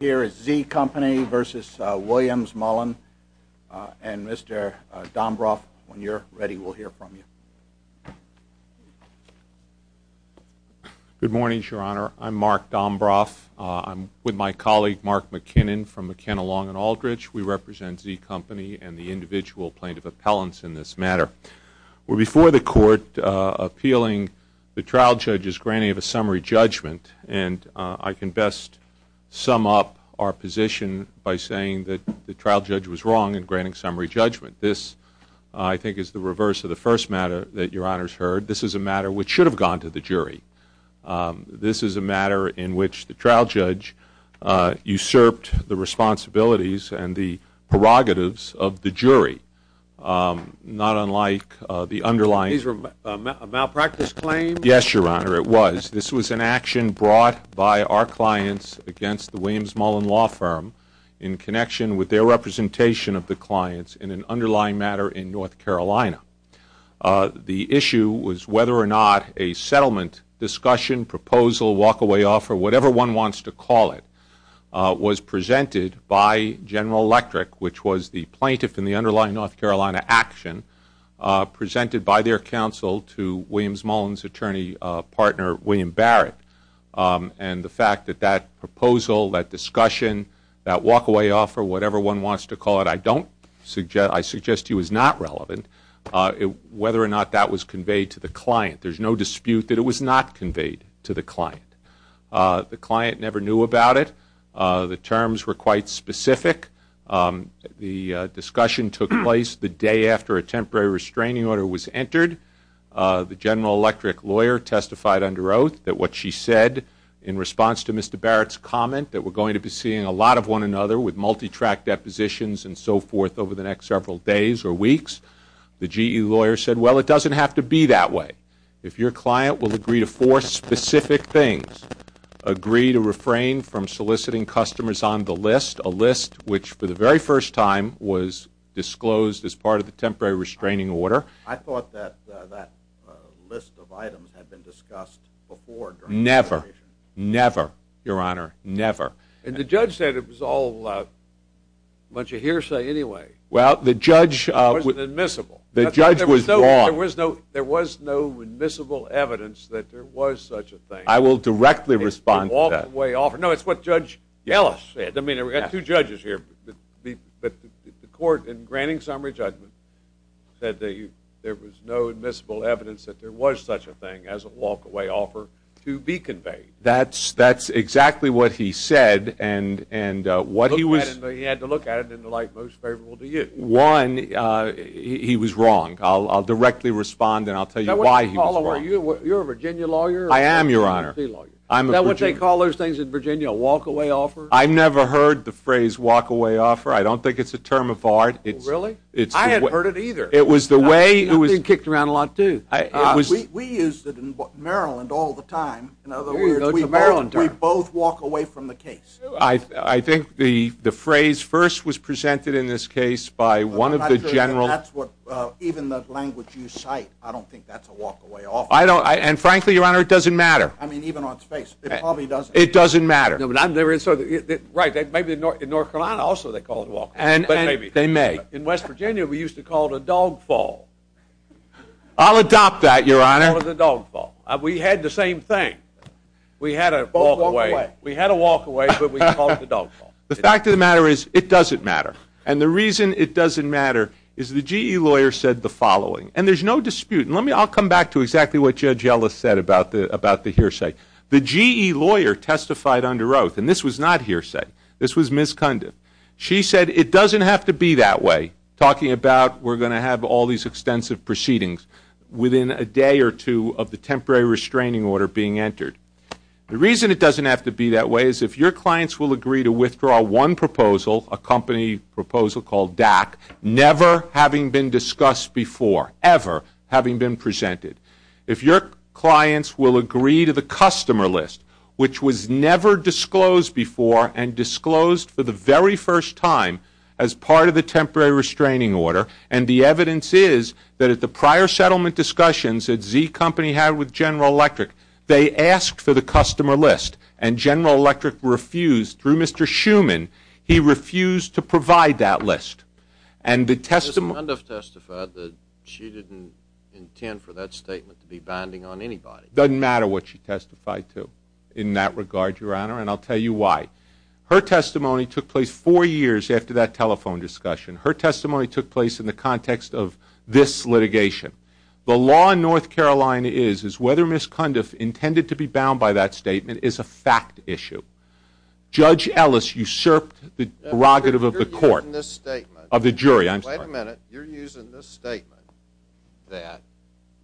Here is Zee Company v. Williams Mullen, and Mr. Dombroff, when you're ready, we'll hear from you. Good morning, Your Honor. I'm Mark Dombroff. I'm with my colleague Mark McKinnon from McKenna, Long & Aldrich. We represent Zee Company and the individual plaintiff appellants in this matter. We're before the court appealing the trial judge's granting of a summary judgment, and I can best sum up our position by saying that the trial judge was wrong in granting summary judgment. This, I think, is the reverse of the first matter that Your Honor's heard. This is a matter which should have gone to the jury. This is a matter in which the trial judge usurped the responsibilities and the prerogatives of the jury, not unlike the underlying— These were malpractice claims? Yes, Your Honor, it was. This was an action brought by our clients against the Williams Mullen Law Firm in connection with their representation of the clients in an underlying matter in North Carolina. The issue was whether or not a settlement, discussion, proposal, walkaway offer, whatever one wants to call it, was presented by General Electric, which was the plaintiff in the underlying North Carolina action, presented by their counsel to Williams Mullen's attorney partner, William Barrett. And the fact that that proposal, that discussion, that walkaway offer, whatever one wants to call it, I don't suggest—I suggest to you is not relevant, whether or not that was conveyed to the client. There's no dispute that it was not conveyed to the client. The client never knew about it. The terms were quite specific. The discussion took place the day after a temporary restraining order was entered. The General Electric lawyer testified under oath that what she said in response to Mr. Barrett's comment, that we're going to be seeing a lot of one another with multi-track depositions and so forth over the next several days or weeks. The GE lawyer said, well, it doesn't have to be that way. If your client will agree to four specific things—agree to refrain from soliciting customers on the list, a list which, for the very first time, was disclosed as part of the temporary restraining order. I thought that that list of items had been discussed before. Never. Never, Your Honor. Never. And the judge said it was all a bunch of hearsay anyway. Well, the judge— It wasn't admissible. The judge was wrong. There was no admissible evidence that there was such a thing. I will directly respond to that. No, it's what Judge Yellis said. I mean, we've got two judges here, but the court, in granting summary judgment, said that there was no admissible evidence that there was such a thing as a walk-away offer to be conveyed. That's exactly what he said, and what he was— He had to look at it in the light most favorable to you. One, he was wrong. I'll directly respond, and I'll tell you why he was wrong. You're a Virginia lawyer? I am, Your Honor. Now, what they call those things in Virginia, a walk-away offer? I've never heard the phrase walk-away offer. I don't think it's a term of art. Really? I hadn't heard it either. It was the way— It's been kicked around a lot, too. We use it in Maryland all the time. In other words, we both walk away from the case. I think the phrase first was presented in this case by one of the general— That's what—even the language you cite, I don't think that's a walk-away offer. I don't—and frankly, Your Honor, it doesn't matter. I mean, even on its face, it probably doesn't. It doesn't matter. No, but I've never—so, right, maybe in North Carolina, also, they call it a walk-away, but maybe— They may. In West Virginia, we used to call it a dog fall. I'll adopt that, Your Honor. Or the dog fall. We had the same thing. We had a walk-away, but we called it a dog fall. The fact of the matter is, it doesn't matter, and the reason it doesn't matter is the GE lawyer said the following, and there's no dispute, and let me—I'll come back to exactly what Judge Yellis said about the hearsay. The GE lawyer testified under oath, and this was not hearsay. This was misconduct. She said it doesn't have to be that way, talking about we're going to have all these extensive proceedings within a day or two of the temporary restraining order being entered. The reason it doesn't have to be that way is if your clients will agree to withdraw one proposal, a company proposal called DAC, never having been discussed before, ever having been presented, if your clients will agree to the customer list, which was never disclosed before and disclosed for the very first time as part of the temporary restraining order, and the evidence is that at the prior settlement discussions that Z Company had with General Electric, they asked for the customer list, and General Electric refused, through Mr. Schuman, he refused to provide that list. And the testimony— Ms. Cundiff testified that she didn't intend for that statement to be binding on anybody. Doesn't matter what she testified to in that regard, Your Honor, and I'll tell you why. Her testimony took place four years after that telephone discussion. Her testimony took place in the context of this litigation. The law in North Carolina is, is whether Ms. Cundiff intended to be bound by that statement is a fact issue. Wait a minute, you're using this statement that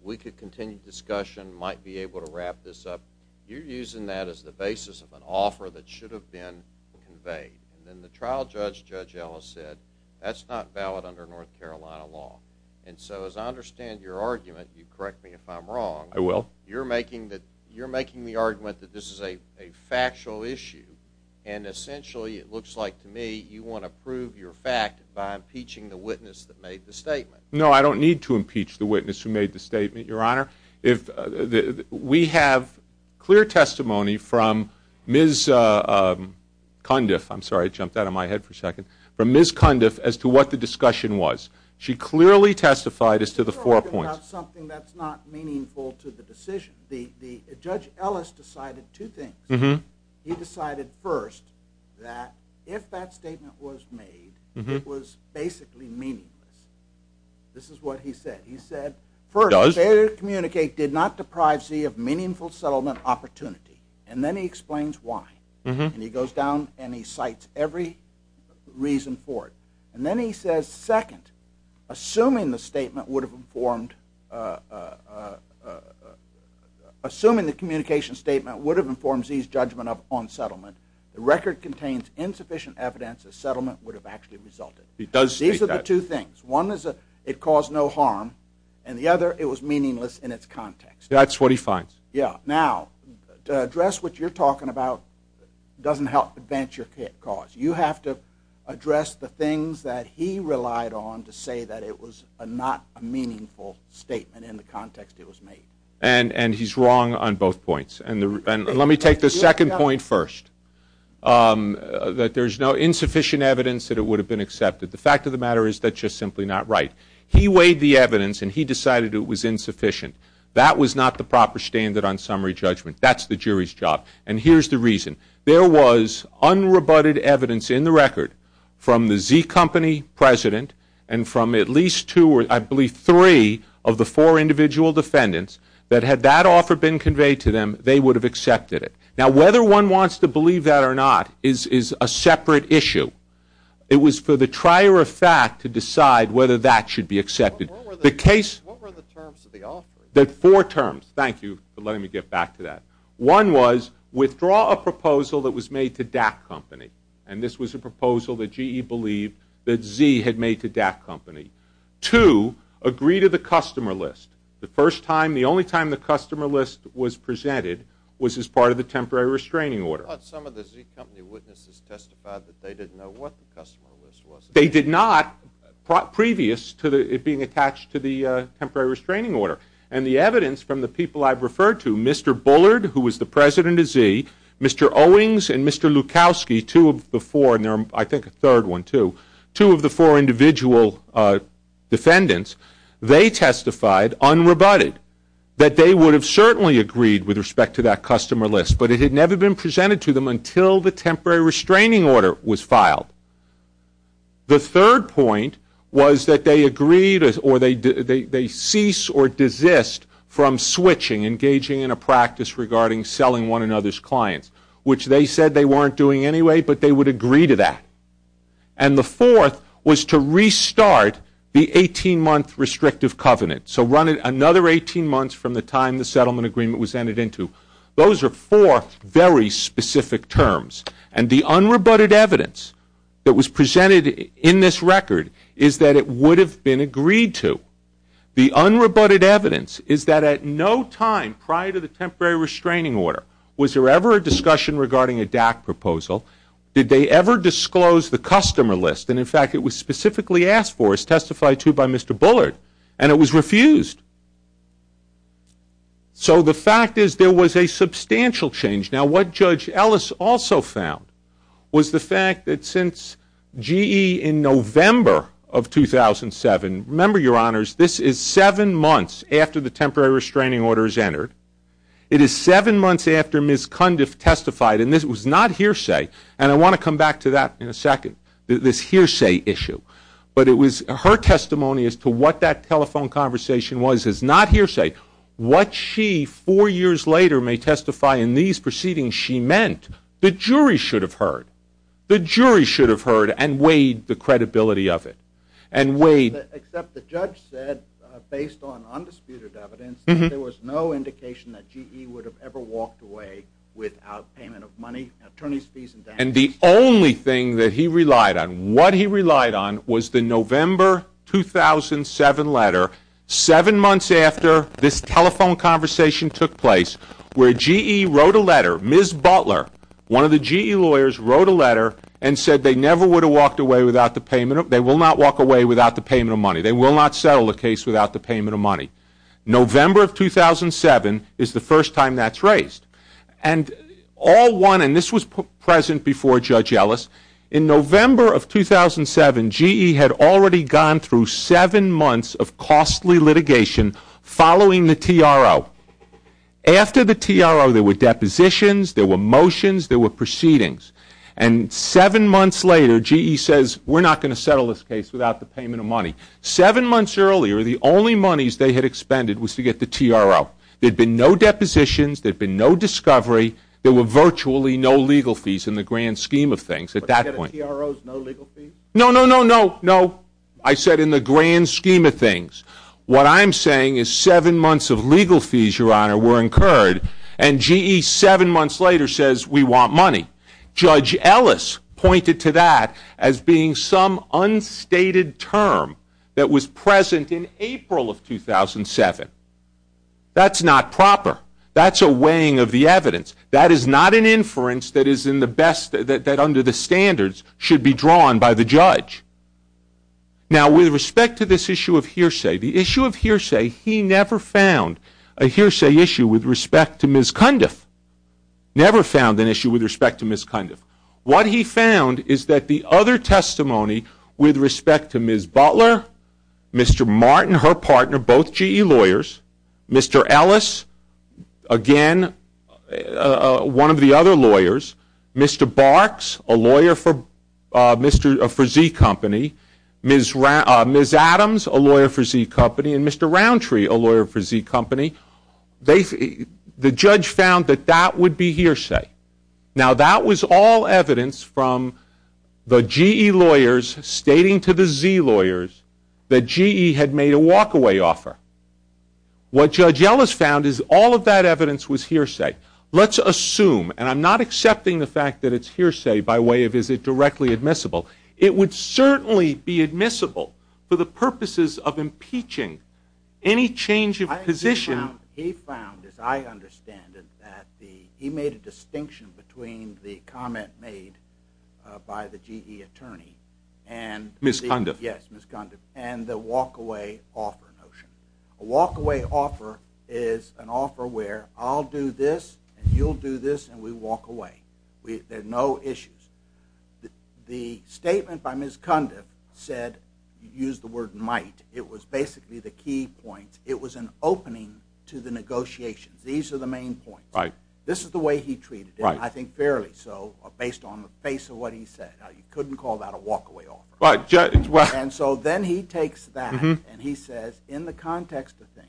we could continue discussion, might be able to wrap this up, you're using that as the basis of an offer that should have been conveyed. And then the trial judge, Judge Ellis, said, that's not valid under North Carolina law. And so as I understand your argument, you correct me if I'm wrong— I will. You're making the argument that this is a factual issue, and essentially, it looks like to me, you want to prove your fact by impeaching the witness that made the statement. No, I don't need to impeach the witness who made the statement, Your Honor. If—we have clear testimony from Ms. Cundiff— I'm sorry, it jumped out of my head for a second— from Ms. Cundiff as to what the discussion was. She clearly testified as to the four points— You're talking about something that's not meaningful to the decision. The, the—Judge Ellis decided two things. Mm-hmm. He decided, first, that if that statement was made, Mm-hmm. it was basically meaningless. This is what he said. He said— He does. First, failure to communicate did not deprive Zee of meaningful settlement opportunity. And then he explains why. Mm-hmm. And he goes down and he cites every reason for it. And then he says, second, assuming the statement would have informed— on settlement, the record contains insufficient evidence that settlement would have actually resulted. He does state that. These are the two things. One is that it caused no harm. And the other, it was meaningless in its context. That's what he finds. Yeah. Now, to address what you're talking about doesn't help advance your cause. You have to address the things that he relied on to say that it was not a meaningful statement in the context it was made. And, and he's wrong on both points. And let me take the second point first. That there's no insufficient evidence that it would have been accepted. The fact of the matter is that's just simply not right. He weighed the evidence and he decided it was insufficient. That was not the proper standard on summary judgment. That's the jury's job. And here's the reason. There was unrebutted evidence in the record from the Zee company president and from at least two or, I believe, three of the four individual defendants that had that offer been conveyed to them, they would have accepted it. Now, whether one wants to believe that or not is, is a separate issue. It was for the trier of fact to decide whether that should be accepted. The case... What were the terms of the offer? There are four terms. Thank you for letting me get back to that. One was withdraw a proposal that was made to DAC company. And this was a proposal that GE believed that Zee had made to DAC company. Two, agree to the customer list. The first time, the only time the customer list was presented was as part of the temporary restraining order. But some of the Zee company witnesses testified that they didn't know what the customer list was. They did not, previous to it being attached to the temporary restraining order. And the evidence from the people I've referred to, Mr. Bullard, who was the president of Zee, Mr. Owings and Mr. Lukowski, two of the four, and there are, I think, a third one too, two of the four individual defendants, they testified, unrebutted, that they would have certainly agreed with respect to that customer list, but it had never been presented to them until the temporary restraining order was filed. The third point was that they agreed, or they ceased or desist from switching, engaging in a practice regarding selling one another's clients, which they said they weren't doing anyway, but they would agree to that. And the fourth was to restart the 18-month restrictive covenant, so run it another 18 months from the time the settlement agreement was entered into. Those are four very specific terms. And the unrebutted evidence that was presented in this record is that it would have been agreed to. The unrebutted evidence is that at no time prior to the temporary restraining order was there ever a discussion regarding a DAC proposal, did they ever disclose the customer list, and in fact it was specifically asked for, it was testified to by Mr. Bullard, and it was refused. So the fact is there was a substantial change. Now what Judge Ellis also found was the fact that since GE in November of 2007, remember, Your Honors, this is seven months after the temporary restraining order is entered, it is seven months after Ms. Cundiff testified, and this was not hearsay, and I want to come back to that in a second, this hearsay issue. But it was her testimony as to what that telephone conversation was, is not hearsay. What she, four years later, may testify in these proceedings, she meant the jury should have heard. The jury should have heard and weighed the credibility of it. And weighed... Except the judge said, based on undisputed evidence, that there was no indication that GE would have ever walked away without payment of money, attorney's fees and damages. And the only thing that he relied on, what he relied on was the November 2007 letter, seven months after this telephone conversation took place, where GE wrote a letter, Ms. Butler, one of the GE lawyers, wrote a letter and said they never would have walked away without the payment of, they will not walk away without the payment of money, they will not settle the case without the payment of money. November of 2007 is the first time that's raised. And all one, and this was present before Judge Ellis, in November of 2007, GE had already gone through seven months of costly litigation following the TRO. After the TRO, there were depositions, there were motions, there were proceedings. And seven months later, GE says, we're not going to settle this case without the payment of money. Seven months earlier, the only monies they had expended was to get the TRO. There'd been no depositions, there'd been no discovery, there were virtually no legal fees in the grand scheme of things at that point. But you said a TRO's no legal fees? No, no, no, no, no. I said in the grand scheme of things. What I'm saying is seven months of legal fees, Your Honor, were incurred, and GE, seven months later, says we want money. Judge Ellis pointed to that as being some unstated term that was present in April of 2007. That's not proper. That's a weighing of the evidence. That is not an inference that is in the best, that under the standards should be drawn by the judge. Now, with respect to this issue of hearsay, the issue of hearsay, he never found a hearsay issue with respect to Ms. Cundiff. Never found an issue with respect to Ms. Cundiff. What he found is that the other testimony with respect to Ms. Butler, Mr. Martin, her partner, both GE lawyers, Mr. Ellis, again, one of the other lawyers, Mr. Barks, a lawyer for Z Company, Ms. Adams, a lawyer for Z Company, and Mr. Roundtree, a lawyer for Z Company, the judge found that that would be hearsay. Now, that was all evidence from the GE lawyers stating to the Z lawyers that GE had made a walkaway offer. What Judge Ellis found is all of that evidence was hearsay. Let's assume, and I'm not accepting the fact that it's hearsay by way of is it directly admissible, it would certainly be admissible for the purposes of impeaching any change of position. He found, as I understand it, that he made a distinction between the comment made by the GE attorney and- Ms. Cundiff. Yes, Ms. Cundiff, and the walkaway offer notion. A walkaway offer is an offer where I'll do this, and you'll do this, and we walk away. There are no issues. The statement by Ms. Cundiff said, used the word might, it was basically the key point. It was an opening to the negotiations. These are the main points. Right. This is the way he treated it, and I think fairly so, based on the face of what he said. Now, you couldn't call that a walkaway offer. Right. And so then he takes that, and he says, in the context of things,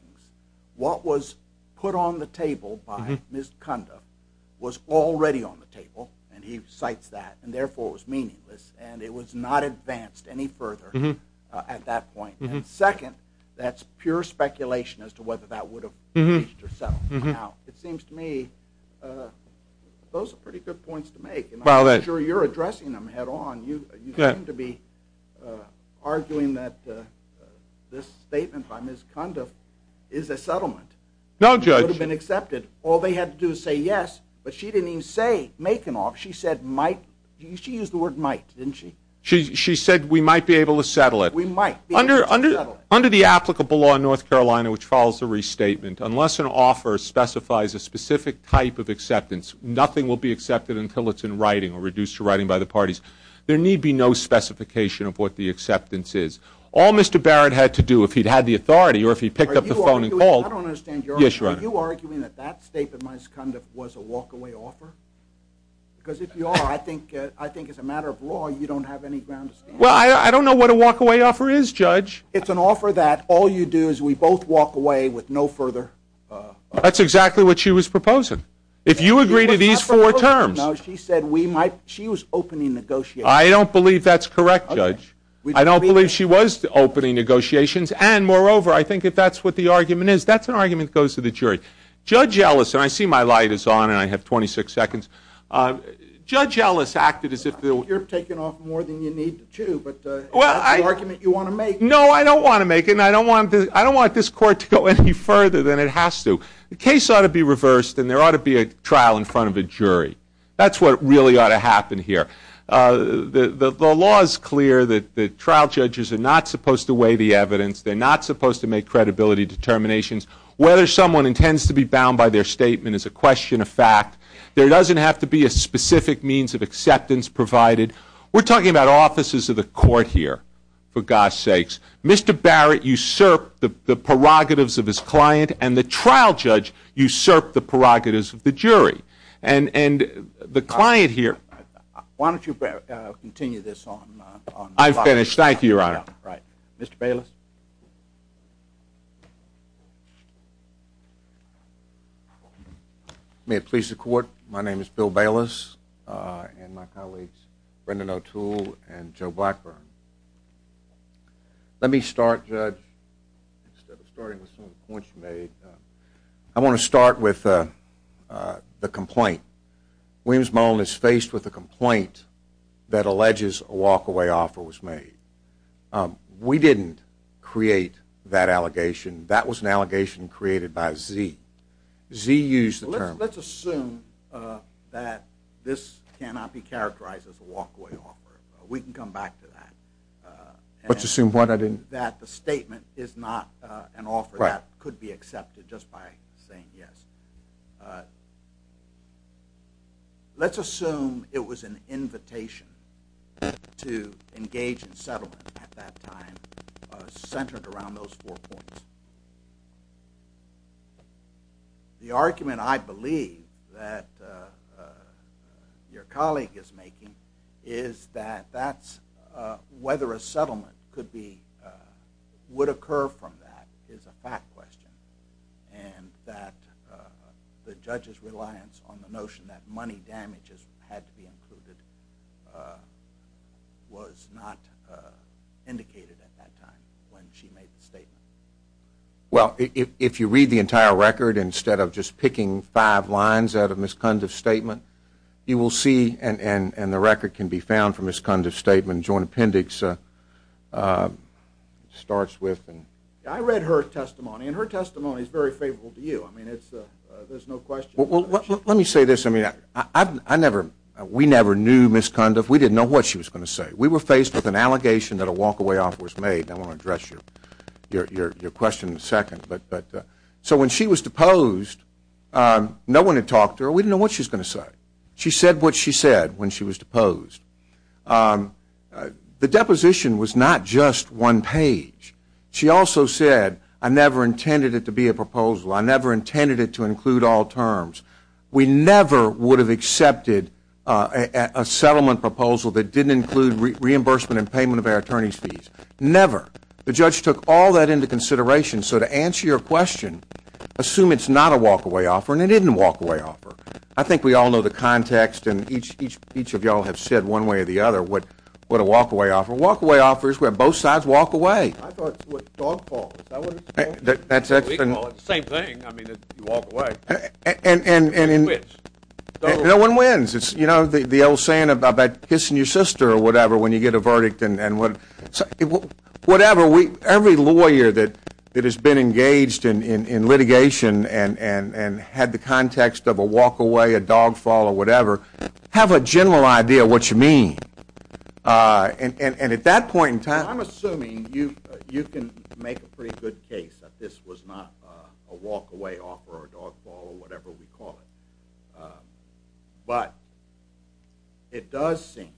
what was put on the table by Ms. Cundiff was already on the table, and he cites that, and therefore was meaningless, and it was not advanced any further at that point. And second, that's pure speculation as to whether that would have reached or settled. Now, it seems to me, those are pretty good points to make, and I'm sure you're addressing them head on. You seem to be arguing that this statement by Ms. Cundiff is a settlement. No, Judge. It would have been accepted. All they had to do is say yes, but she didn't even say make an offer. She said might. She used the word might, didn't she? She said we might be able to settle it. We might. Under the applicable law in North Carolina, which follows the restatement, unless an offer specifies a specific type of acceptance, nothing will be accepted until it's in writing or reduced to writing by the parties. There need be no specification of what the acceptance is. All Mr. Barrett had to do, if he'd had the authority or if he picked up the phone and called— I don't understand your argument. Yes, Your Honor. Are you arguing that that statement by Ms. Cundiff was a walkaway offer? Because if you are, I think as a matter of law, you don't have any ground to stand on. Well, I don't know what a walkaway offer is, Judge. It's an offer that all you do is we both walk away with no further— That's exactly what she was proposing. If you agree to these four terms— No, she said we might—she was opening negotiations. I don't believe that's correct, Judge. I don't believe she was opening negotiations. And moreover, I think if that's what the argument is, that's an argument that goes to the jury. Judge Ellis—and I see my light is on and I have 26 seconds. Judge Ellis acted as if— You're taking off more than you need to, but that's the argument you want to make. No, I don't want to make it, and I don't want this court to go any further than it has to. The case ought to be reversed, and there ought to be a trial in front of a jury. That's what really ought to happen here. The law is clear that the trial judges are not supposed to weigh the evidence. They're not supposed to make credibility determinations. Whether someone intends to be bound by their statement is a question of fact. There doesn't have to be a specific means of acceptance provided. We're talking about offices of the court here, for God's sakes. Mr. Barrett usurped the prerogatives of his client, and the trial judge usurped the prerogatives of the jury. And the client here— Why don't you continue this on— I'm finished. Thank you, Your Honor. Right. Mr. Bayless? May it please the court, my name is Bill Bayless, and my colleagues Brendan O'Toole and Joe Blackburn. Let me start, Judge, starting with some of the points you made. I want to start with the complaint. Williams-Mullen is faced with a complaint that alleges a walk-away offer was made. We didn't create that allegation. That was an allegation created by Zee. Zee used the term— Let's assume that this cannot be characterized as a walk-away offer. We can come back to that. Let's assume what? I didn't— That the statement is not an offer that could be accepted just by saying yes. Let's assume it was an invitation to engage in settlement at that time, centered around those four points. The argument I believe that your colleague is making is that whether a settlement would occur from that is a fact question, and that the judge's reliance on the notion that money damages had to be included was not indicated at that time when she made the statement. Well, if you read the entire record, instead of just picking five lines out of Ms. Kundiff's statement, you will see, and the record can be found from Ms. Kundiff's statement, joint appendix starts with— I read her testimony, and her testimony is very favorable to you. I mean, there's no question. Well, let me say this. I mean, we never knew Ms. Kundiff. We didn't know what she was going to say. We were faced with an allegation that a walk-away offer was made, and I want to address your question in a second. So when she was deposed, no one had talked to her. We didn't know what she was going to say. She said what she said when she was deposed. The deposition was not just one page. She also said, I never intended it to be a proposal. I never intended it to include all terms. We never would have accepted a settlement proposal that didn't include reimbursement and payment of our attorney's fees, never. The judge took all that into consideration. So to answer your question, assume it's not a walk-away offer, and it isn't a walk-away offer. I think we all know the context, and each of you all have said one way or the other what a walk-away offer is. A walk-away offer is where both sides walk away. I thought it was a dog fall. We can call it the same thing. I mean, you walk away. No one wins. No one wins. You know the old saying about kissing your sister or whatever when you get a verdict. Whatever, every lawyer that has been engaged in litigation and had the context of a walk-away, a dog fall, or whatever, have a general idea of what you mean. And at that point in time, I'm assuming you can make a pretty good case that this was not a walk-away offer or a dog fall or whatever we call it. But it does seem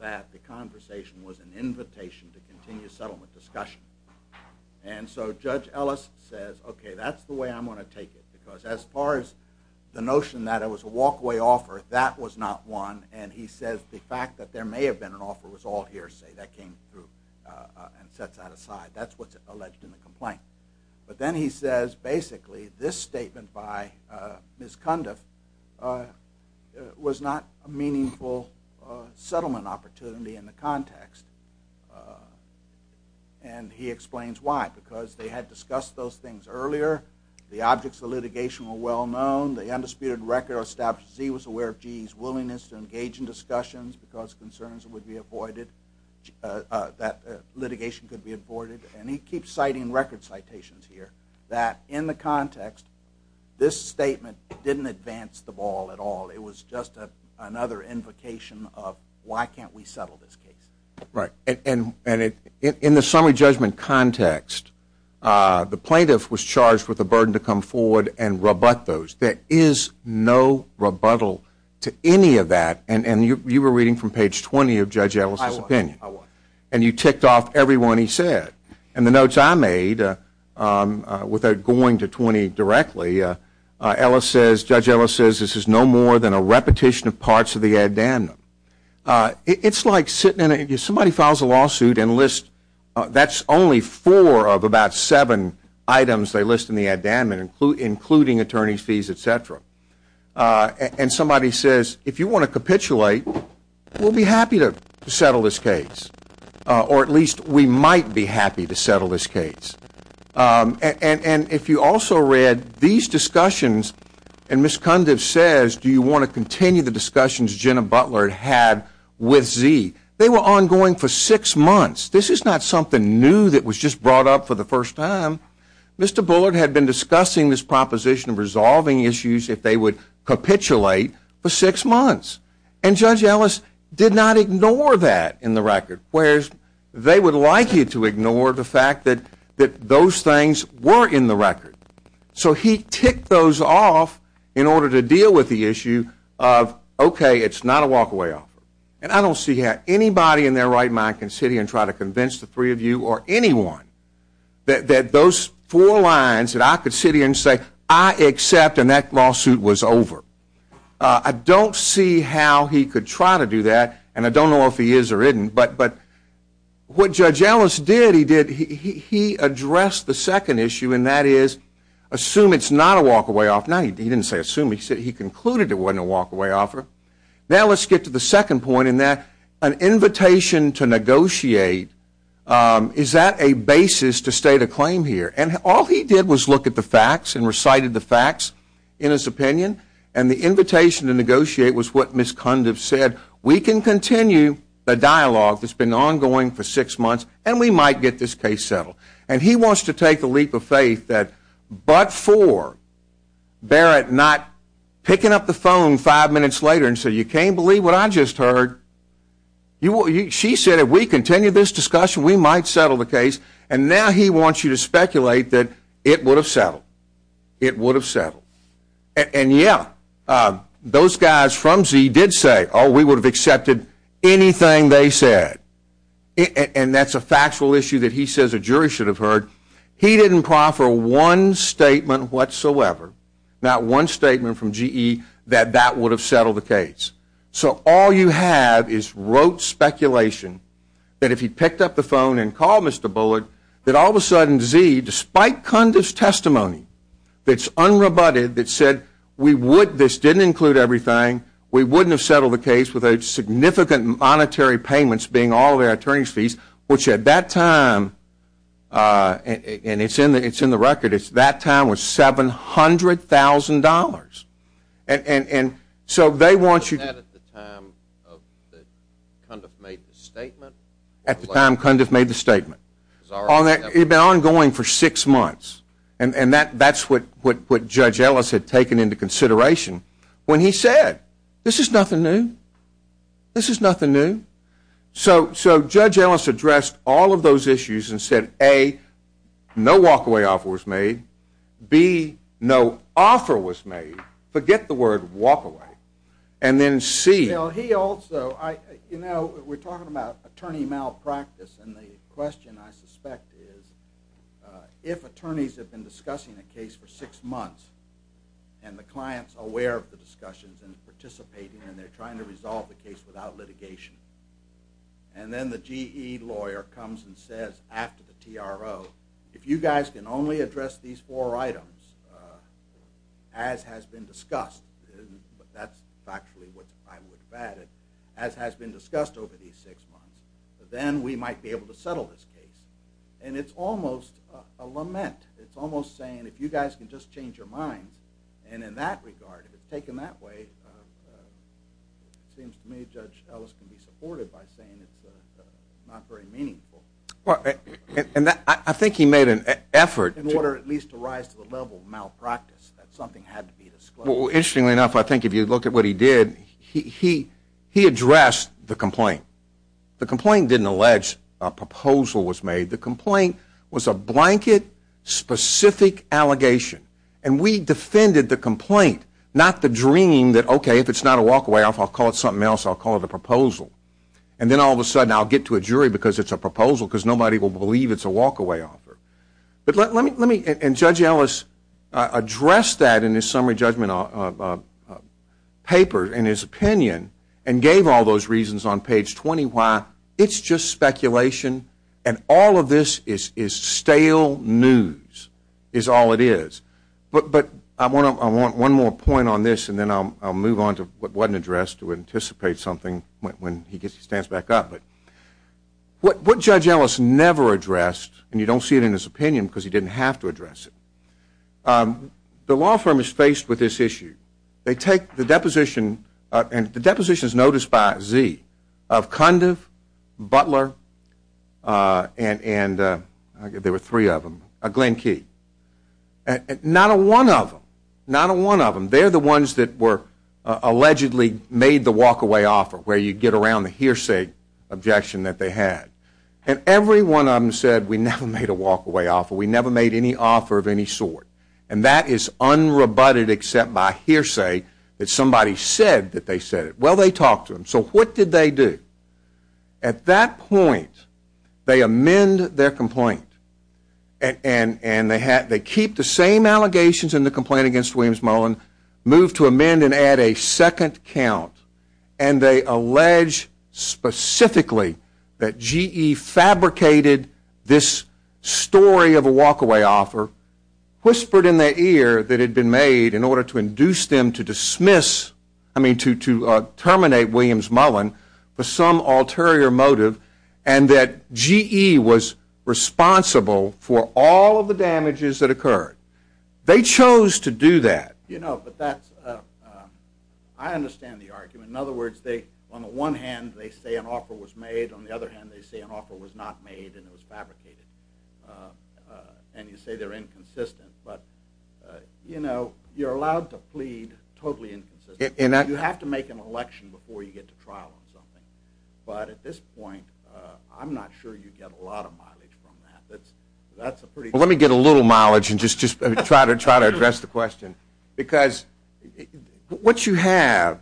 that the conversation was an invitation to continue settlement discussion. And so Judge Ellis says, okay, that's the way I'm going to take it, because as far as the notion that it was a walk-away offer, that was not one. And he says the fact that there may have been an offer was all hearsay. That came through and sets that aside. That's what's alleged in the complaint. But then he says, basically, this statement by Ms. Cundiff was not a meaningful settlement opportunity in the context. And he explains why, because they had discussed those things earlier. The objects of litigation were well known. The undisputed record establishes he was aware of GE's willingness to engage in discussions because concerns would be avoided, that litigation could be avoided. And he keeps citing record citations here that, in the context, this statement didn't advance the ball at all. It was just another invocation of why can't we settle this case. Right. And in the summary judgment context, the plaintiff was charged with the burden to come forward and rebut those. There is no rebuttal to any of that. And you were reading from page 20 of Judge Ellis' opinion. I was. And you ticked off every one he said. And the notes I made, without going to 20 directly, Judge Ellis says this is no more than a repetition of parts of the addendum. It's like somebody files a lawsuit and lists, that's only four of about seven items they list in the addendum, including attorney's fees, et cetera. And somebody says if you want to capitulate, we'll be happy to settle this case. Or at least we might be happy to settle this case. And if you also read these discussions, and Ms. Cundiff says do you want to continue the discussions Jenna Butler had with Z, they were ongoing for six months. This is not something new that was just brought up for the first time. Mr. Bullard had been discussing this proposition of resolving issues if they would capitulate for six months. And Judge Ellis did not ignore that in the record. Whereas they would like you to ignore the fact that those things were in the record. So he ticked those off in order to deal with the issue of okay, it's not a walk away offer. And I don't see how anybody in their right mind can sit here and try to convince the three of you or anyone that those four lines that I could sit here and say I accept and that lawsuit was over. I don't see how he could try to do that. And I don't know if he is or isn't. But what Judge Ellis did, he addressed the second issue, and that is assume it's not a walk away offer. Now he didn't say assume, he concluded it wasn't a walk away offer. Now let's get to the second point in that an invitation to negotiate, is that a basis to state a claim here? And all he did was look at the facts and recited the facts in his opinion. And the invitation to negotiate was what Ms. Cundiff said, we can continue the dialogue that's been ongoing for six months and we might get this case settled. And he wants to take the leap of faith that but for Barrett not picking up the phone five minutes later and say you can't believe what I just heard. She said if we continue this discussion we might settle the case. And now he wants you to speculate that it would have settled. It would have settled. And yeah, those guys from Z did say oh we would have accepted anything they said. And that's a factual issue that he says a jury should have heard. He didn't proffer one statement whatsoever, not one statement from GE that that would have settled the case. So all you have is rote speculation that if he picked up the phone and called Mr. Bullard that all of a sudden Z, despite Cundiff's testimony, that's unrebutted, that said we would, this didn't include everything, we wouldn't have settled the case with a significant monetary payments being all of our attorney's fees, which at that time, and it's in the record, that time was $700,000. And so they want you to Was that at the time Cundiff made the statement? At the time Cundiff made the statement. It had been ongoing for six months. And that's what Judge Ellis had taken into consideration when he said this is nothing new. This is nothing new. So Judge Ellis addressed all of those issues and said A, no walkaway offer was made. B, no offer was made. Forget the word walkaway. And then C. He also, you know, we're talking about attorney malpractice and the question I suspect is if attorneys have been discussing a case for six months and the client's aware of the discussions and participating and they're trying to resolve the case without litigation and then the GE lawyer comes and says after the TRO, if you guys can only address these four items as has been discussed, that's factually what I would have added, as has been discussed over these six months, then we might be able to settle this case. And it's almost a lament. It's almost saying if you guys can just change your minds. And in that regard, if it's taken that way, it seems to me Judge Ellis can be supported by saying it's not very meaningful. And I think he made an effort. In order at least to rise to the level of malpractice, that something had to be disclosed. Well, interestingly enough, I think if you look at what he did, he addressed the complaint. The complaint didn't allege a proposal was made. The complaint was a blanket specific allegation. And we defended the complaint, not the dream that okay, if it's not a walk-away offer, I'll call it something else. I'll call it a proposal. And then all of a sudden I'll get to a jury because it's a proposal because nobody will believe it's a walk-away offer. And Judge Ellis addressed that in his summary judgment paper in his opinion and gave all those reasons on page 20 why it's just speculation and all of this is stale news is all it is. But I want one more point on this and then I'll move on to what wasn't addressed to anticipate something when he stands back up. What Judge Ellis never addressed, and you don't see it in his opinion because he didn't have to address it, the law firm is faced with this issue. They take the deposition, and the deposition is noticed by Zee, of Cundiff, Butler, and there were three of them, Glenn Key. Not a one of them, not a one of them, they're the ones that were allegedly made the walk-away offer where you get around the hearsay objection that they had. And every one of them said we never made a walk-away offer, we never made any offer of any sort. And that is unrebutted except by hearsay that somebody said that they said it. Well, they talked to them. So what did they do? At that point, they amend their complaint and they keep the same allegations in the complaint against Williams Mullin, move to amend and add a second count, and they allege specifically that GE fabricated this story of a walk-away offer, whispered in their ear that it had been made in order to induce them to dismiss, I mean to terminate Williams Mullin for some ulterior motive, and that GE was responsible for all of the damages that occurred. They chose to do that. You know, but that's, I understand the argument. In other words, on the one hand they say an offer was made, on the other hand they say an offer was not made and it was fabricated. And you say they're inconsistent. But, you know, you're allowed to plead totally inconsistent. You have to make an election before you get to trial on something. But at this point, I'm not sure you get a lot of mileage from that. That's a pretty good point. Well, let me get a little mileage and just try to address the question. Because what you have,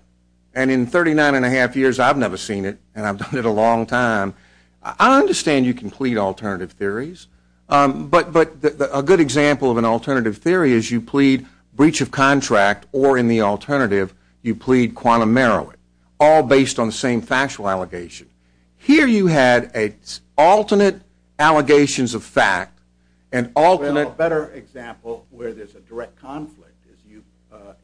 and in 39 1⁄2 years I've never seen it, and I've done it a long time, I understand you can plead alternative theories. But a good example of an alternative theory is you plead breach of contract or in the alternative you plead quantum merit, all based on the same factual allegation. Here you had alternate allegations of fact and alternate. Well, a better example where there's a direct conflict is you,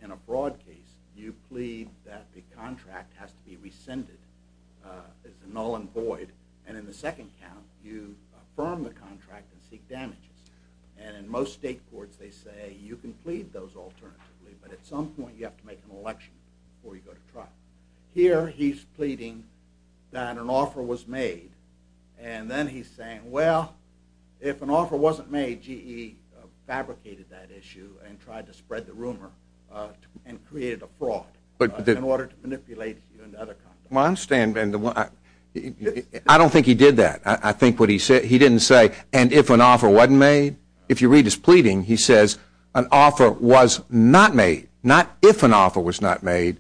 in a broad case, you plead that the contract has to be rescinded. It's a null and void. And in the second count, you affirm the contract and seek damages. And in most state courts they say you can plead those alternatively, but at some point you have to make an election before you go to trial. Here he's pleading that an offer was made. And then he's saying, well, if an offer wasn't made, GE fabricated that issue and tried to spread the rumor and created a fraud in order to manipulate you into other contracts. Well, I understand. I don't think he did that. He didn't say, and if an offer wasn't made. If you read his pleading, he says an offer was not made. Not if an offer was not made.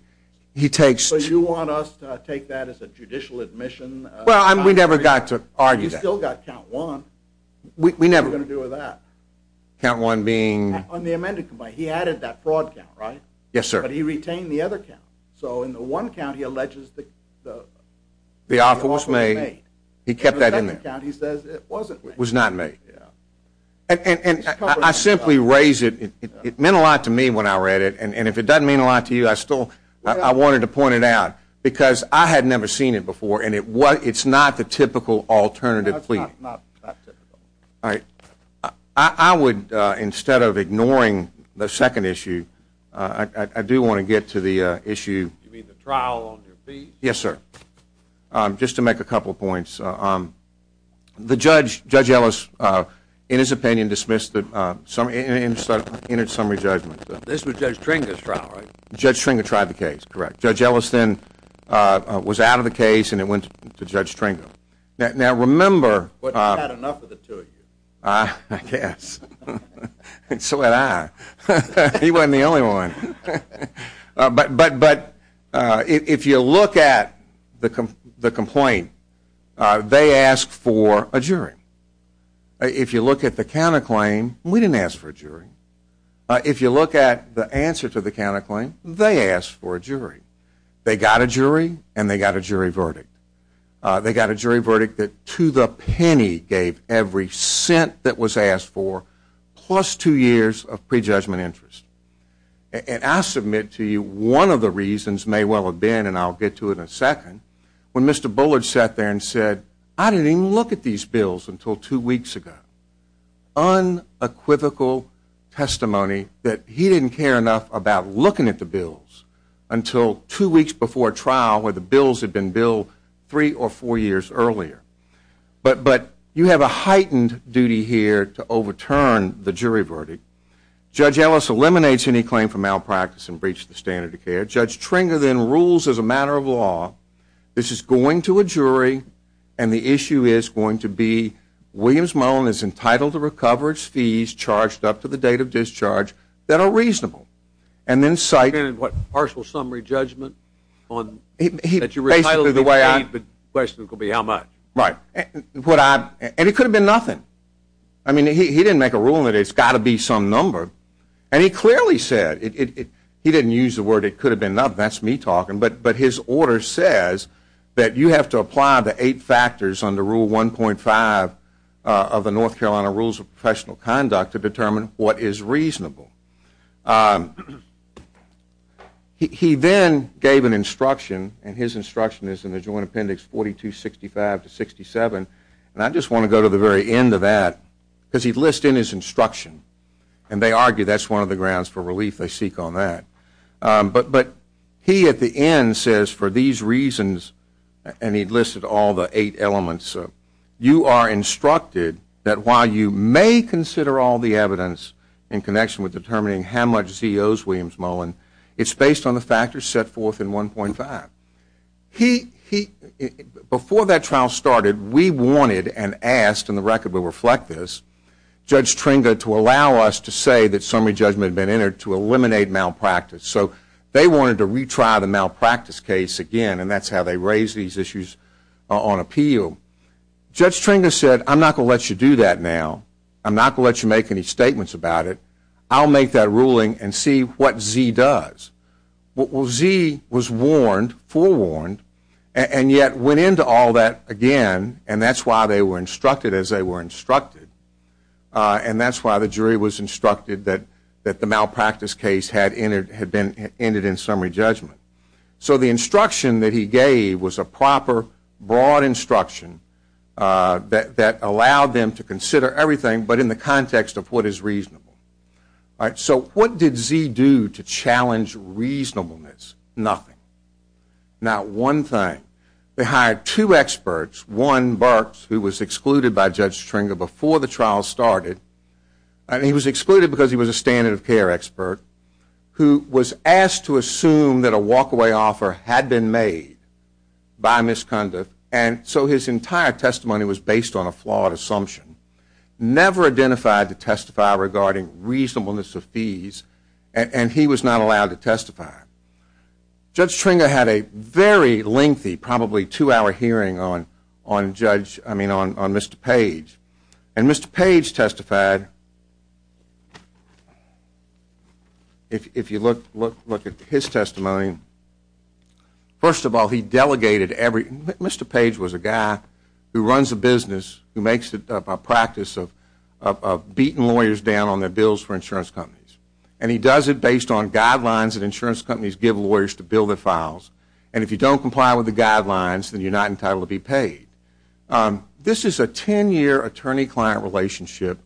So you want us to take that as a judicial admission? Well, we never got to argue that. You still got count one. What are you going to do with that? Count one being? On the amended complaint. He added that fraud count, right? Yes, sir. But he retained the other count. So in the one count, he alleges the offer was made. He kept that in there. In the second count, he says it wasn't made. It was not made. And I simply raise it. It meant a lot to me when I read it, and if it doesn't mean a lot to you, I wanted to point it out because I had never seen it before, and it's not the typical alternative pleading. No, it's not typical. All right. I would, instead of ignoring the second issue, I do want to get to the issue. You mean the trial on your feet? Yes, sir. Just to make a couple of points. The judge, Judge Ellis, in his opinion, dismissed the summary judgment. This was Judge Tringa's trial, right? Judge Tringa tried the case, correct. Judge Ellis then was out of the case, and it went to Judge Tringa. Now, remember. But not enough of the two of you. I guess. And so had I. He wasn't the only one. But if you look at the complaint, they asked for a jury. If you look at the counterclaim, we didn't ask for a jury. If you look at the answer to the counterclaim, they asked for a jury. They got a jury, and they got a jury verdict. They got a jury verdict that, to the penny, gave every cent that was asked for, plus two years of prejudgment interest. And I submit to you, one of the reasons may well have been, and I'll get to it in a second, when Mr. Bullard sat there and said, I didn't even look at these bills until two weeks ago. Unequivocal testimony that he didn't care enough about looking at the bills until two weeks before trial, where the bills had been billed three or four years earlier. But you have a heightened duty here to overturn the jury verdict. Judge Ellis eliminates any claim for malpractice and breaches the standard of care. Judge Tringa then rules as a matter of law, this is going to a jury, and the issue is going to be Williams-Mullen is entitled to recover its fees charged up to the date of discharge that are reasonable. And then cite... Partial summary judgment on... Basically the way I... The question could be how much. Right. And it could have been nothing. I mean, he didn't make a rule that it's got to be some number. And he clearly said, he didn't use the word it could have been nothing, that's me talking, but his order says that you have to apply the eight factors under Rule 1.5 of the North Carolina Rules of Professional Conduct to determine what is reasonable. He then gave an instruction, and his instruction is in the Joint Appendix 4265-67, and I just want to go to the very end of that, because he lists in his instruction, and they argue that's one of the grounds for relief they seek on that. But he at the end says, for these reasons, and he listed all the eight elements, you are instructed that while you may consider all the evidence in connection with determining how much he owes Williams Mullen, it's based on the factors set forth in 1.5. He... Before that trial started, we wanted and asked, and the record will reflect this, Judge Tringa to allow us to say that summary judgment had been entered to eliminate malpractice. So they wanted to retry the malpractice case again, and that's how they raised these issues on appeal. Judge Tringa said, I'm not going to let you do that now. I'm not going to let you make any statements about it. I'll make that ruling and see what Z does. Well, Z was warned, forewarned, and yet went into all that again, and that's why they were instructed as they were instructed, and that's why the jury was instructed that the malpractice case had been entered in summary judgment. So the instruction that he gave was a proper, broad instruction that allowed them to consider everything but in the context of what is reasonable. So what did Z do to challenge reasonableness? Nothing. Not one thing. They hired two experts, one, Burks, who was excluded by Judge Tringa before the trial started, and he was excluded because he was a standard of care expert, who was asked to assume that a walk-away offer had been made by Ms. Cundiff, and so his entire testimony was based on a flawed assumption, never identified to testify regarding reasonableness of fees, and he was not allowed to testify. Judge Tringa had a very lengthy, probably two-hour hearing on Mr. Page, and Mr. Page testified, if you look at his testimony, first of all, he delegated every, Mr. Page was a guy who runs a business, who makes it a practice of beating lawyers down on their bills for insurance companies, and he does it based on guidelines that insurance companies give lawyers to bill their files, and if you don't comply with the guidelines, then you're not entitled to be paid. This is a 10-year attorney-client relationship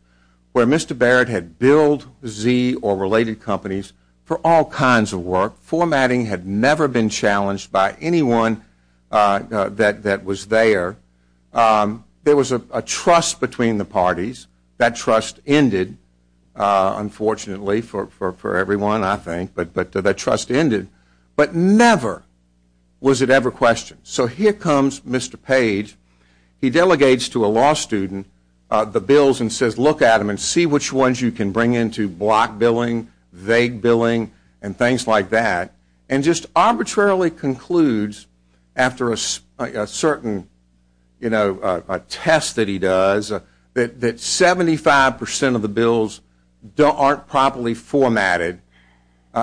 where Mr. Barrett had billed Z or related companies for all kinds of work, formatting had never been challenged by anyone that was there. There was a trust between the parties. That trust ended, unfortunately, for everyone, I think, but that trust ended, but never was it ever questioned. So here comes Mr. Page. He delegates to a law student the bills and says, look at them and see which ones you can bring into block billing, vague billing, and things like that, and just arbitrarily concludes after a certain test that he does that 75% of the bills aren't properly formatted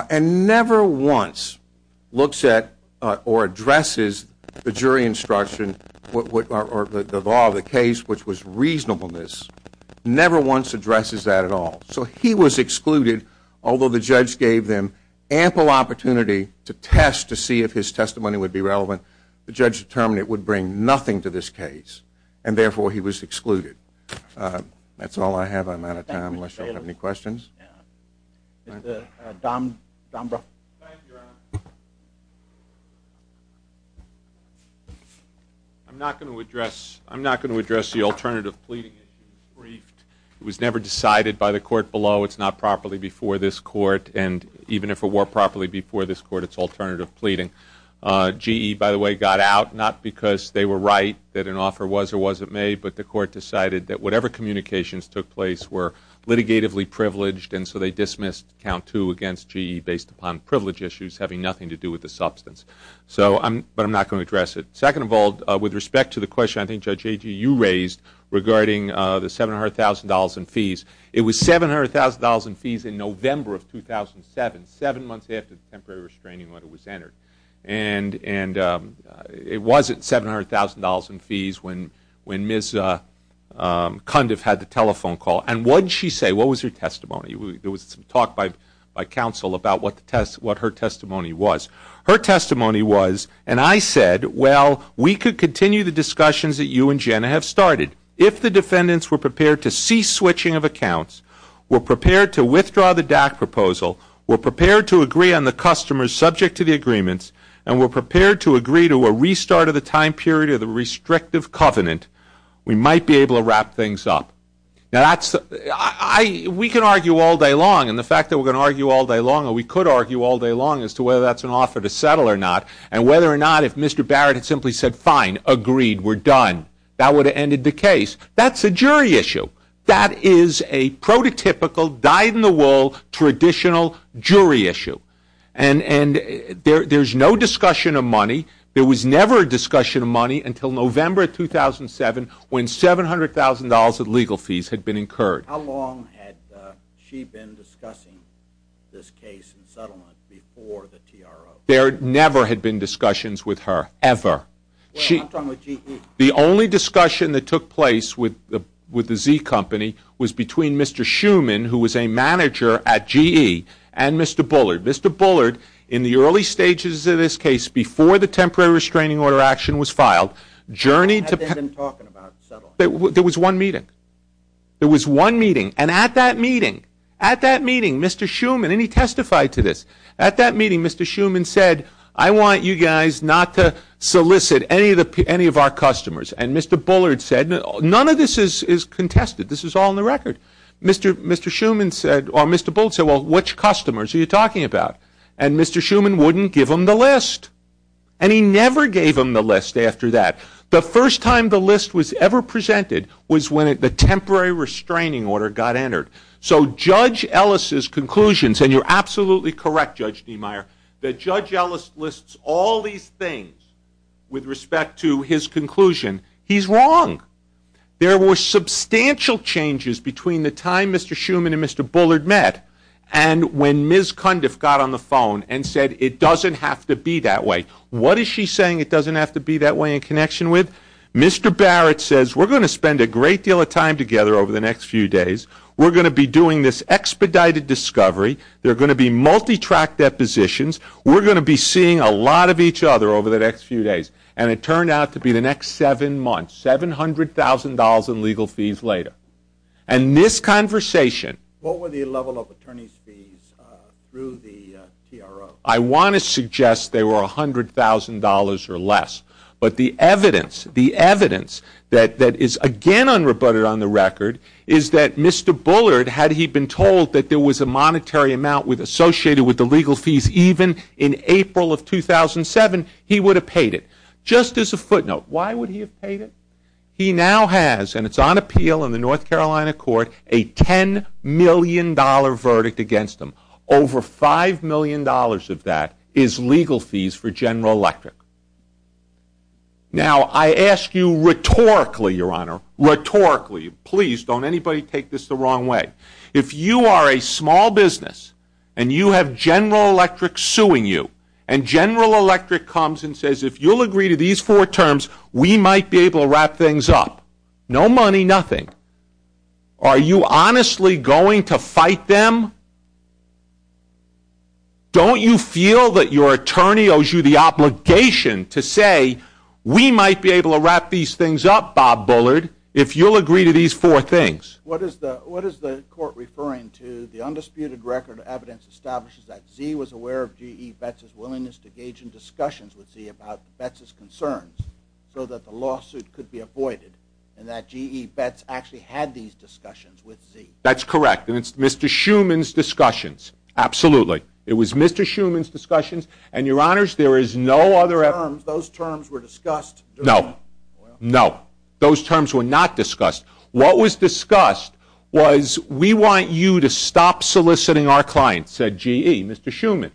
and never once looks at or addresses the jury instruction or the law of the case, which was reasonableness, never once addresses that at all. So he was excluded, although the judge gave them ample opportunity to test to see if his testimony would be relevant. The judge determined it would bring nothing to this case, and therefore he was excluded. That's all I have. I'm out of time unless you have any questions. Mr. Dombrow. Thank you, Your Honor. I'm not going to address the alternative pleading issue. It was never decided by the court below. It's not properly before this court, and even if it were properly before this court, it's alternative pleading. GE, by the way, got out not because they were right that an offer was or wasn't made, but the court decided that whatever communications took place were litigatively privileged, and so they dismissed count two against GE based upon privilege issues having nothing to do with the substance. But I'm not going to address it. Second of all, with respect to the question I think Judge Agee, you raised regarding the $700,000 in fees. It was $700,000 in fees in November of 2007, seven months after the temporary restraining order was entered. And it wasn't $700,000 in fees when Ms. Cundiff had the telephone call. And what did she say? What was her testimony? There was some talk by counsel about what her testimony was. Her testimony was, and I said, well, we could continue the discussions that you and Jenna have started if the defendants were prepared to cease switching of accounts, were prepared to withdraw the DAC proposal, were prepared to agree on the customers subject to the agreements, and were prepared to agree to a restart of the time period of the restrictive covenant, we might be able to wrap things up. Now, we can argue all day long, and the fact that we're going to argue all day long, or we could argue all day long as to whether that's an offer to settle or not, and whether or not if Mr. Barrett had simply said, fine, agreed, we're done, that would have ended the case. That's a jury issue. That is a prototypical, dyed-in-the-wool, traditional jury issue. And there's no discussion of money. There was never a discussion of money until November 2007 when $700,000 of legal fees had been incurred. How long had she been discussing this case and settlement before the TRO? There never had been discussions with her, ever. I'm talking with GE. The only discussion that took place with the Z company was between Mr. Schumann, who was a manager at GE, and Mr. Bullard. Mr. Bullard, in the early stages of this case, before the temporary restraining order action was filed, journeyed to ______. There was one meeting. There was one meeting, and at that meeting, Mr. Schumann, and he testified to this, at that meeting, Mr. Schumann said, I want you guys not to solicit any of our customers. And Mr. Bullard said, none of this is contested. This is all on the record. Mr. Bullard said, well, which customers are you talking about? And Mr. Schumann wouldn't give him the list. And he never gave him the list after that. The first time the list was ever presented was when the temporary restraining order got entered. So Judge Ellis's conclusions, and you're absolutely correct, Judge Niemeyer, that Judge Ellis lists all these things with respect to his conclusion. He's wrong. There were substantial changes between the time Mr. Schumann and Mr. Bullard met and when Ms. Cundiff got on the phone and said it doesn't have to be that way. What is she saying it doesn't have to be that way in connection with? Mr. Barrett says we're going to spend a great deal of time together over the next few days. We're going to be doing this expedited discovery. There are going to be multi-track depositions. We're going to be seeing a lot of each other over the next few days. And it turned out to be the next seven months, $700,000 in legal fees later. And this conversation. What were the level of attorney's fees through the TRO? I want to suggest they were $100,000 or less. But the evidence, the evidence that is again unrebutted on the record is that Mr. Bullard, had he been told that there was a monetary amount associated with the legal fees even in April of 2007, he would have paid it. Just as a footnote, why would he have paid it? He now has, and it's on appeal in the North Carolina court, a $10 million verdict against him. Over $5 million of that is legal fees for General Electric. Now I ask you rhetorically, Your Honor, rhetorically, please don't anybody take this the wrong way. If you are a small business and you have General Electric suing you, and General Electric comes and says if you'll agree to these four terms, we might be able to wrap things up. No money, nothing. Are you honestly going to fight them? Don't you feel that your attorney owes you the obligation to say, we might be able to wrap these things up, Bob Bullard, if you'll agree to these four things? What is the court referring to? The undisputed record of evidence establishes that Z was aware of G.E. Betz's willingness to engage in discussions with Z about Betz's concerns so that the lawsuit could be avoided, and that G.E. Betz actually had these discussions with Z. That's correct, and it's Mr. Schuman's discussions. Absolutely. It was Mr. Schuman's discussions. And, Your Honors, there is no other evidence. Those terms were discussed. No. No. Those terms were not discussed. What was discussed was we want you to stop soliciting our clients, said G.E., Mr. Schuman.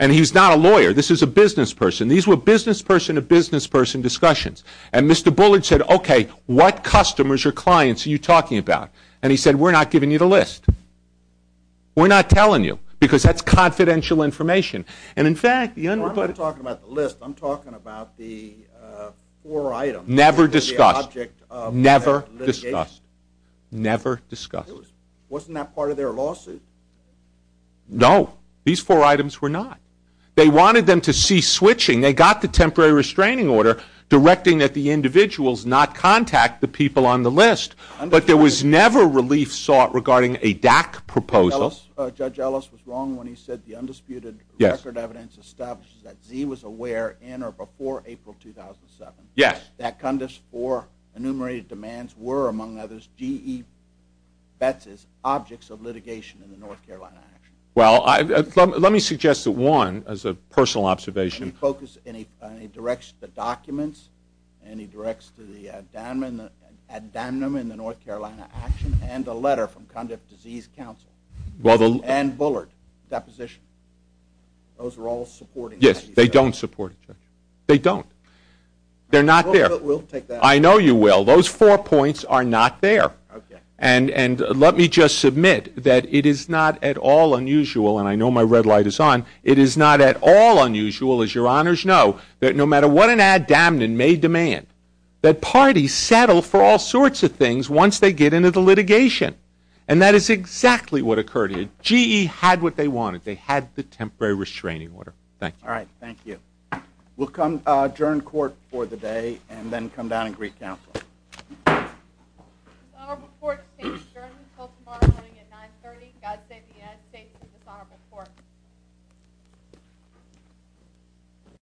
And he's not a lawyer. This is a business person. These were business person-to-business person discussions. And Mr. Bullard said, okay, what customers or clients are you talking about? And he said, we're not giving you the list. We're not telling you because that's confidential information. And, in fact, the undisputed. No, I'm not talking about the list. I'm talking about the four items. Never discussed. Never discussed. Never discussed. Wasn't that part of their lawsuit? No. These four items were not. They wanted them to cease switching. They got the temporary restraining order directing that the individuals not contact the people on the list. But there was never relief sought regarding a DAC proposal. Judge Ellis was wrong when he said the undisputed record evidence establishes that Z was aware in or before April 2007. Yes. That Cundiff's four enumerated demands were, among others, G.E. Betz's objects of litigation in the North Carolina action. Well, let me suggest that one, as a personal observation. And he directs the documents and he directs to the ad damnum in the North Carolina action and a letter from Cundiff Disease Council and Bullard deposition. Those are all supporting. Yes, they don't support it, Judge. They don't. They're not there. We'll take that. I know you will. Those four points are not there. Okay. And let me just submit that it is not at all unusual, and I know my red light is on, it is not at all unusual, as your honors know, that no matter what an ad damnum may demand, that parties settle for all sorts of things once they get into the litigation. And that is exactly what occurred here. G.E. had what they wanted. They had the temporary restraining order. Thank you. All right. Thank you. We'll adjourn court for the day and then come down and greet counsel. This honorable court abstains adjourned until tomorrow morning at 930. God save the United States of this honorable court.